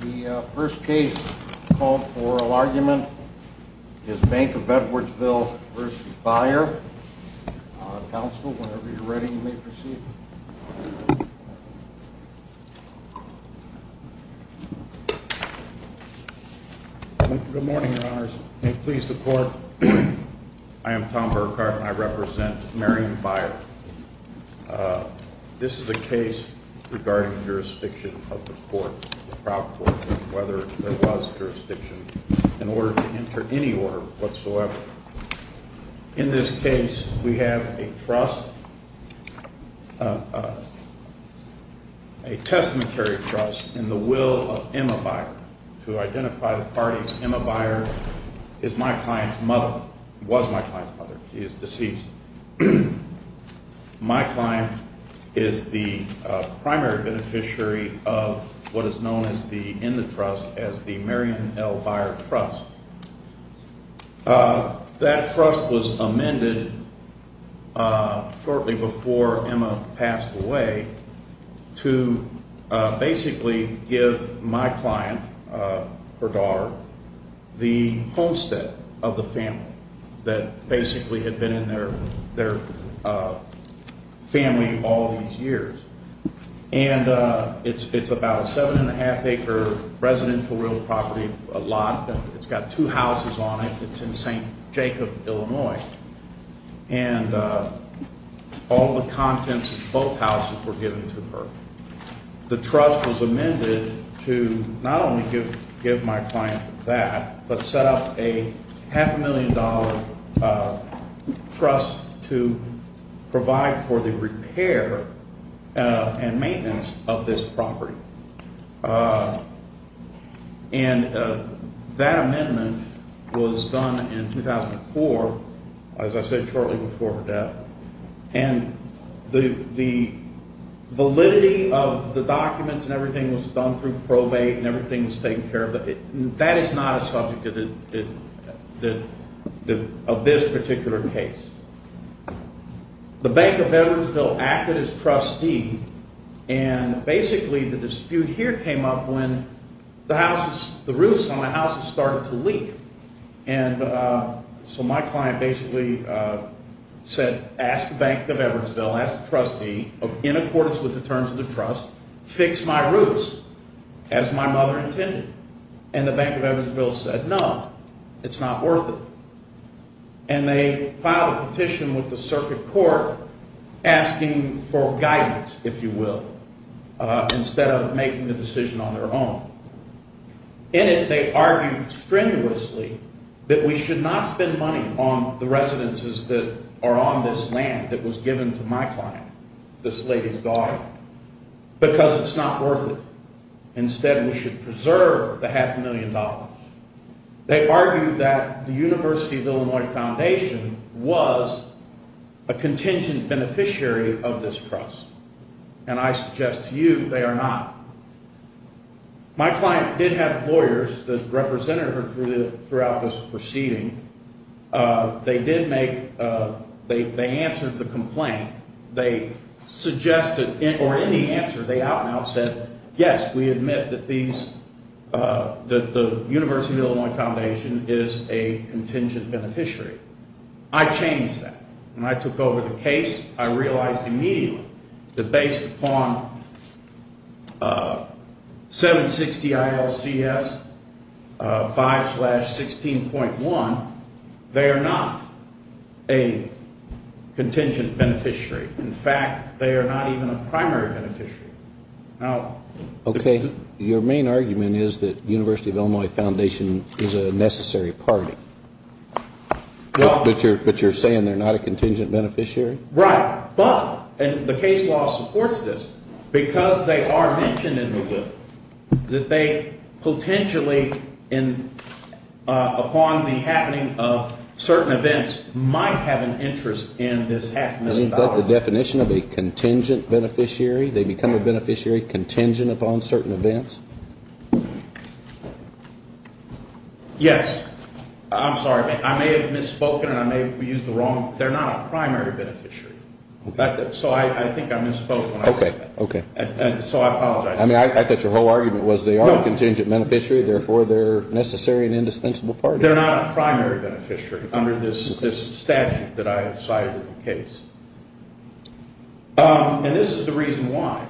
The first case called for oral argument is Bank of Edwardsville v. Beyer. Counsel, whenever you're ready, you may proceed. Good morning, Your Honors. May it please the Court, I am Tom Burkhart and I represent Marion Beyer. This is a case regarding jurisdiction of the court, the trial court, whether there was jurisdiction in order to enter any order whatsoever. In this case, we have a trust, a testamentary trust in the will of Emma Beyer to identify the parties. Emma Beyer is my client's mother, was my client's mother. She is deceased. My client is the primary beneficiary of what is known in the trust as the Marion L. Beyer Trust. That trust was amended shortly before Emma passed away to basically give my client, her daughter, the homestead of the family that basically had been in their family all these years. And it's about a seven and a half acre residential real property, a lot. It's got two houses on it. It's in St. Jacob, Illinois. And all the contents of both houses were given to her. The trust was amended to not only give my client that, but set up a half a million dollar trust to provide for the repair and maintenance of this property. And that amendment was done in 2004, as I said, shortly before her death. And the validity of the documents and everything was done through probate and everything was taken care of. But that is not a subject of this particular case. The Bank of Evansville acted as trustee and basically the dispute here came up when the houses, the roofs on the houses started to leak. And so my client basically said, ask the Bank of Evansville, ask the trustee, in accordance with the terms of the trust, fix my roofs as my mother intended. And the Bank of Evansville said, no, it's not worth it. And they filed a petition with the circuit court asking for guidance, if you will, instead of making the decision on their own. In it, they argued strenuously that we should not spend money on the residences that are on this land that was given to my client, this lady's daughter, because it's not worth it. Instead, we should preserve the half a million dollars. They argued that the University of Illinois Foundation was a contingent beneficiary of this trust. And I suggest to you they are not. My client did have lawyers that represented her throughout this proceeding. They did make, they answered the complaint. They suggested, or in the answer, they out and out said, yes, we admit that these, that the University of Illinois Foundation is a contingent beneficiary. I changed that. When I took over the case, I realized immediately that based upon 760 ILCS 5 slash 16.1, they are not a contingent beneficiary. In fact, they are not even a primary beneficiary. Okay. Your main argument is that University of Illinois Foundation is a necessary party. But you're saying they're not a contingent beneficiary? Right. But, and the case law supports this, because they are mentioned in the bill, that they potentially, upon the happening of certain events, might have an interest in this half million dollars. Isn't that the definition of a contingent beneficiary? They become a beneficiary contingent upon certain events? Yes. I'm sorry. I may have misspoken and I may have used the wrong, they're not a primary beneficiary. So I think I misspoke when I said that. Okay, okay. So I apologize. I mean, I thought your whole argument was they are a contingent beneficiary, therefore they're necessary and indispensable parties. They're not a primary beneficiary under this statute that I have cited in the case. And this is the reason why.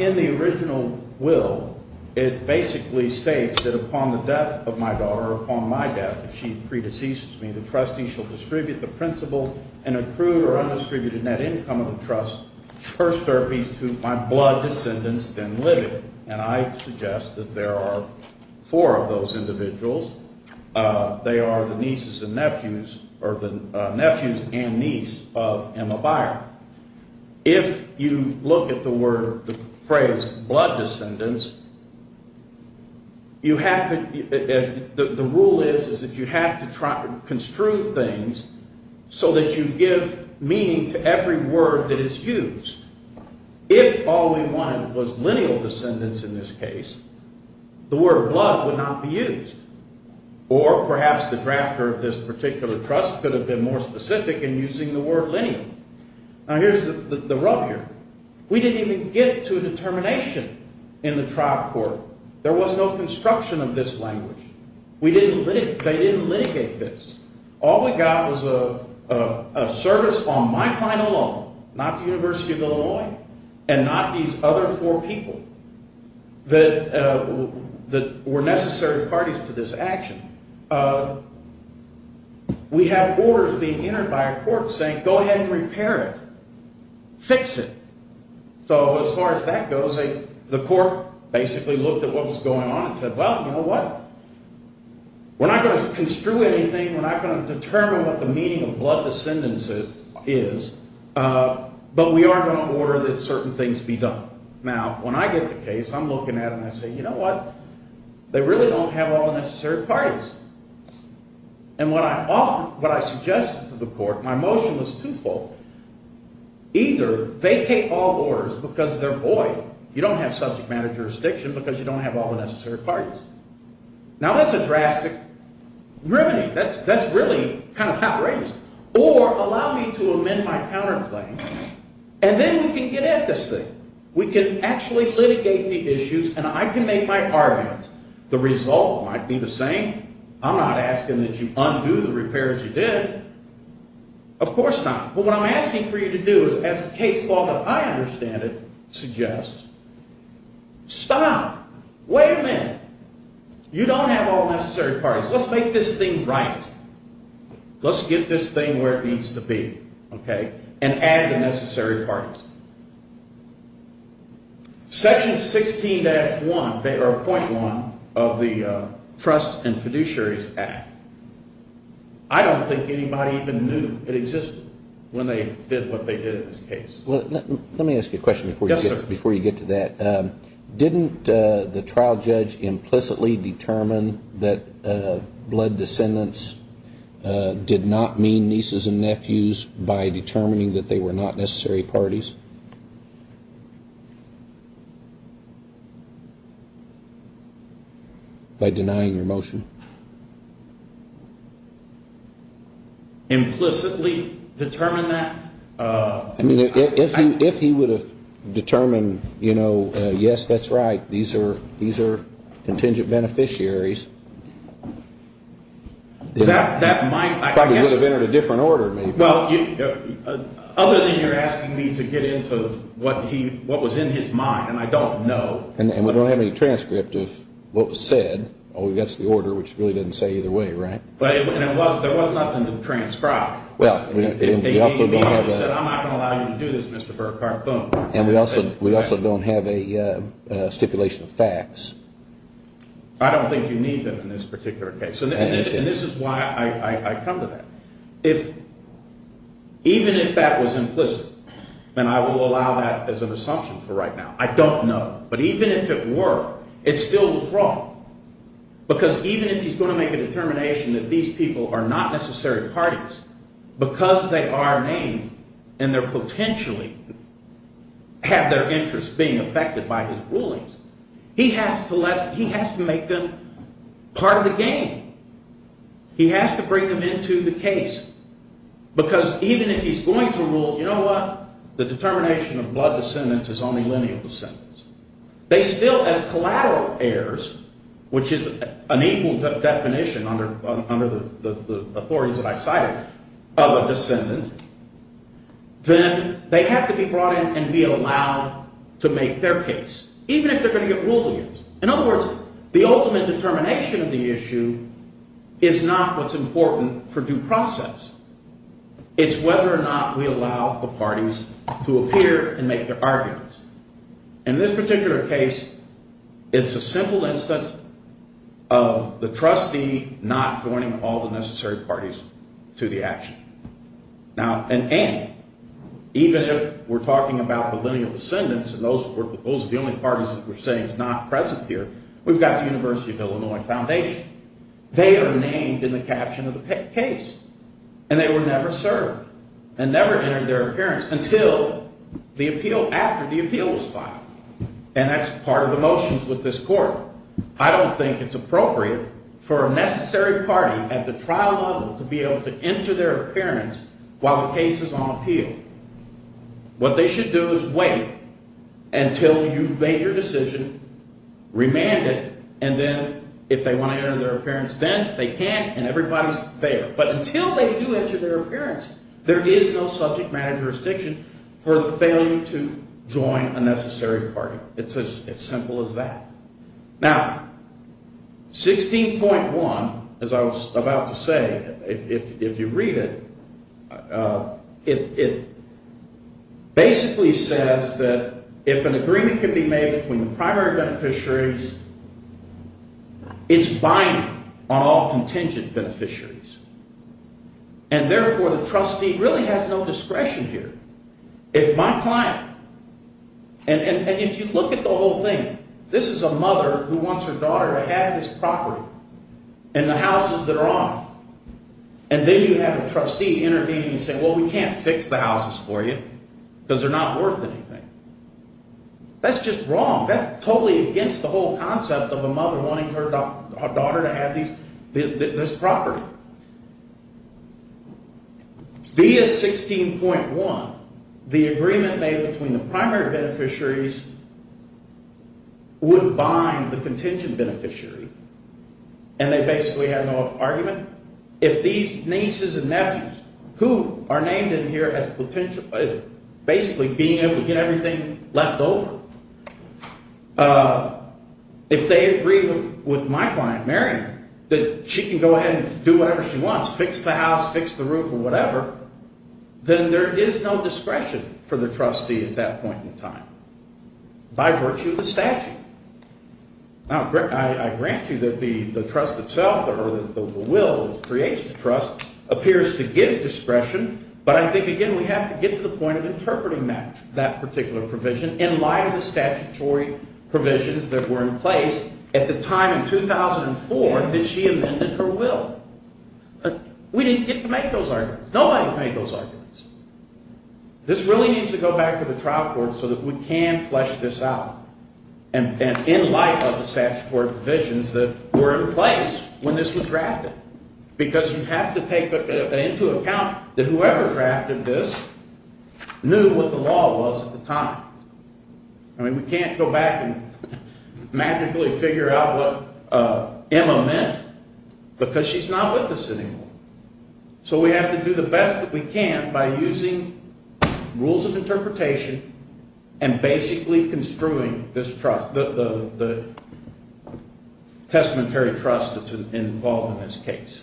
In the original will, it basically states that upon the death of my daughter, upon my death, if she predeceases me, the trustee shall distribute the principal and approve or undistribute a net income of the trust, first therapies to my blood descendants, then livid. And I suggest that there are four of those individuals. They are the nieces and nephews, or the nephews and niece of Emma Byer. If you look at the word, the phrase blood descendants, you have to, the rule is that you have to construe things so that you give meaning to every word that is used. If all we wanted was lineal descendants in this case, the word blood would not be used. Or perhaps the drafter of this particular trust could have been more specific in using the word lineal. Now, here's the rub here. We didn't even get to a determination in the trial court. There was no construction of this language. They didn't litigate this. All we got was a service on my client alone, not the University of Illinois, and not these other four people that were necessary parties to this action. We have orders being entered by a court saying, go ahead and repair it, fix it. So as far as that goes, the court basically looked at what was going on and said, well, you know what? We're not going to construe anything. We're not going to determine what the meaning of blood descendants is, but we are going to order that certain things be done. Now, when I get the case, I'm looking at it and I say, you know what? They really don't have all the necessary parties. And what I suggested to the court, my motion was twofold. Either vacate all orders because they're void. You don't have subject matter jurisdiction because you don't have all the necessary parties. Now, that's a drastic remedy. That's really kind of outrageous. Or allow me to amend my counterclaim, and then we can get at this thing. We can actually litigate the issues, and I can make my arguments. The result might be the same. I'm not asking that you undo the repairs you did. Of course not. But what I'm asking for you to do is, as the case law that I understand it suggests, stop. Wait a minute. You don't have all the necessary parties. Let's make this thing right. Let's get this thing where it needs to be, okay, and add the necessary parties. Section 16-1, or point 1 of the Trust and Fiduciaries Act. I don't think anybody even knew it existed when they did what they did in this case. Let me ask you a question before you get to that. Didn't the trial judge implicitly determine that blood descendants did not mean nieces and nephews by determining that they were not necessary parties? By denying your motion? Implicitly determine that? If he would have determined, you know, yes, that's right, these are contingent beneficiaries. That might, I guess. Probably would have entered a different order. Other than you're asking me to get into what was in his mind, and I don't know. And we don't have any transcript of what was said. Oh, that's the order, which really doesn't say either way, right? There was nothing to transcribe. Well, we also don't have a stipulation of facts. I don't think you need them in this particular case. And this is why I come to that. Even if that was implicit, and I will allow that as an assumption for right now, I don't know. But even if it were, it still was wrong. Because even if he's going to make a determination that these people are not necessary parties, because they are named and they're potentially have their interests being affected by his rulings, he has to make them part of the game. He has to bring them into the case. Because even if he's going to rule, you know what? The determination of blood descendants is only lineal descendants. They still, as collateral heirs, which is an equal definition under the authorities that I cited, of a descendant, then they have to be brought in and be allowed to make their case, even if they're going to get ruled against. In other words, the ultimate determination of the issue is not what's important for due process. It's whether or not we allow the parties to appear and make their arguments. In this particular case, it's a simple instance of the trustee not joining all the necessary parties to the action. Now, and even if we're talking about the lineal descendants, and those are the only parties that we're saying is not present here, we've got the University of Illinois Foundation. They are named in the caption of the case. And they were never served and never entered their appearance until the appeal, after the appeal was filed. And that's part of the motions with this court. I don't think it's appropriate for a necessary party at the trial level to be able to enter their appearance while the case is on appeal. What they should do is wait until you've made your decision, remand it, and then if they want to enter their appearance then they can, and everybody's there. But until they do enter their appearance, there is no subject matter jurisdiction for the failure to join a necessary party. It's as simple as that. Now, 16.1, as I was about to say, if you read it, it basically says that if an agreement can be made between the primary beneficiaries, it's binding on all contingent beneficiaries. And therefore the trustee really has no discretion here. It's my client. And if you look at the whole thing, this is a mother who wants her daughter to have this property and the houses that are on it. And then you have a trustee intervening and saying, well, we can't fix the houses for you because they're not worth anything. That's just wrong. That's totally against the whole concept of a mother wanting her daughter to have this property. Via 16.1, the agreement made between the primary beneficiaries would bind the contingent beneficiary. And they basically have no argument. If these nieces and nephews who are named in here as basically being able to get everything left over, if they agree with my client marrying her that she can go ahead and do whatever she wants, fix the house, fix the roof or whatever, then there is no discretion for the trustee at that point in time by virtue of the statute. Now, I grant you that the trust itself or the will, the creation of trust, appears to give discretion. But I think, again, we have to get to the point of interpreting that particular provision in light of the statutory provisions that were in place at the time in 2004 that she amended her will. We didn't get to make those arguments. Nobody made those arguments. This really needs to go back to the trial court so that we can flesh this out. And in light of the statutory provisions that were in place when this was drafted. Because you have to take into account that whoever drafted this knew what the law was at the time. I mean, we can't go back and magically figure out what Emma meant because she's not with us anymore. So we have to do the best that we can by using rules of interpretation and basically construing the testamentary trust that's involved in this case.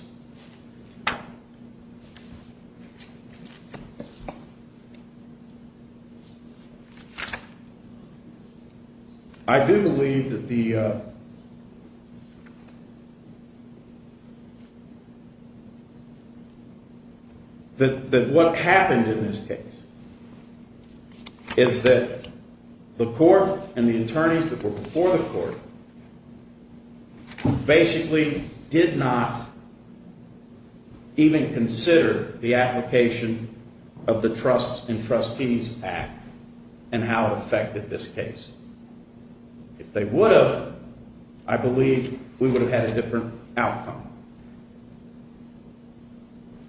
I do believe that the – that what happened in this case is that the court and the attorneys that were before the court basically did not – even consider the application of the Trusts and Trustees Act and how it affected this case. If they would have, I believe we would have had a different outcome.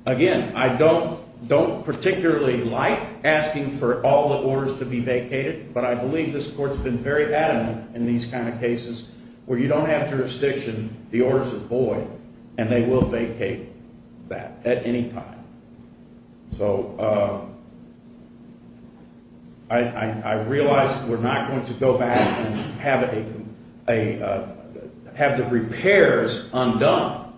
Again, I don't particularly like asking for all the orders to be vacated. But I believe this court's been very adamant in these kind of cases where you don't have jurisdiction, the orders are void, and they will vacate that at any time. So I realize that we're not going to go back and have the repairs undone.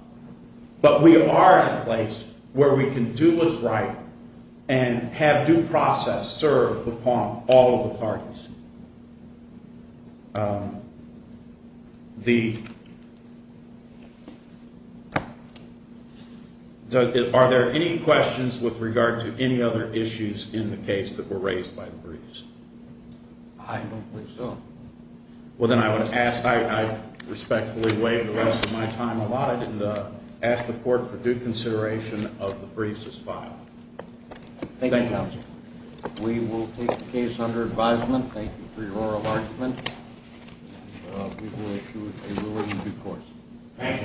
But we are in a place where we can do what's right and have due process serve upon all of the parties. Are there any questions with regard to any other issues in the case that were raised by the briefs? I don't think so. Well, then I would ask – I respectfully waive the rest of my time alive and ask the court for due consideration of the briefs as filed. Thank you, counsel. We will take the case under advisement. Thank you for your oral argument. And we will issue a ruling in due course. Thank you.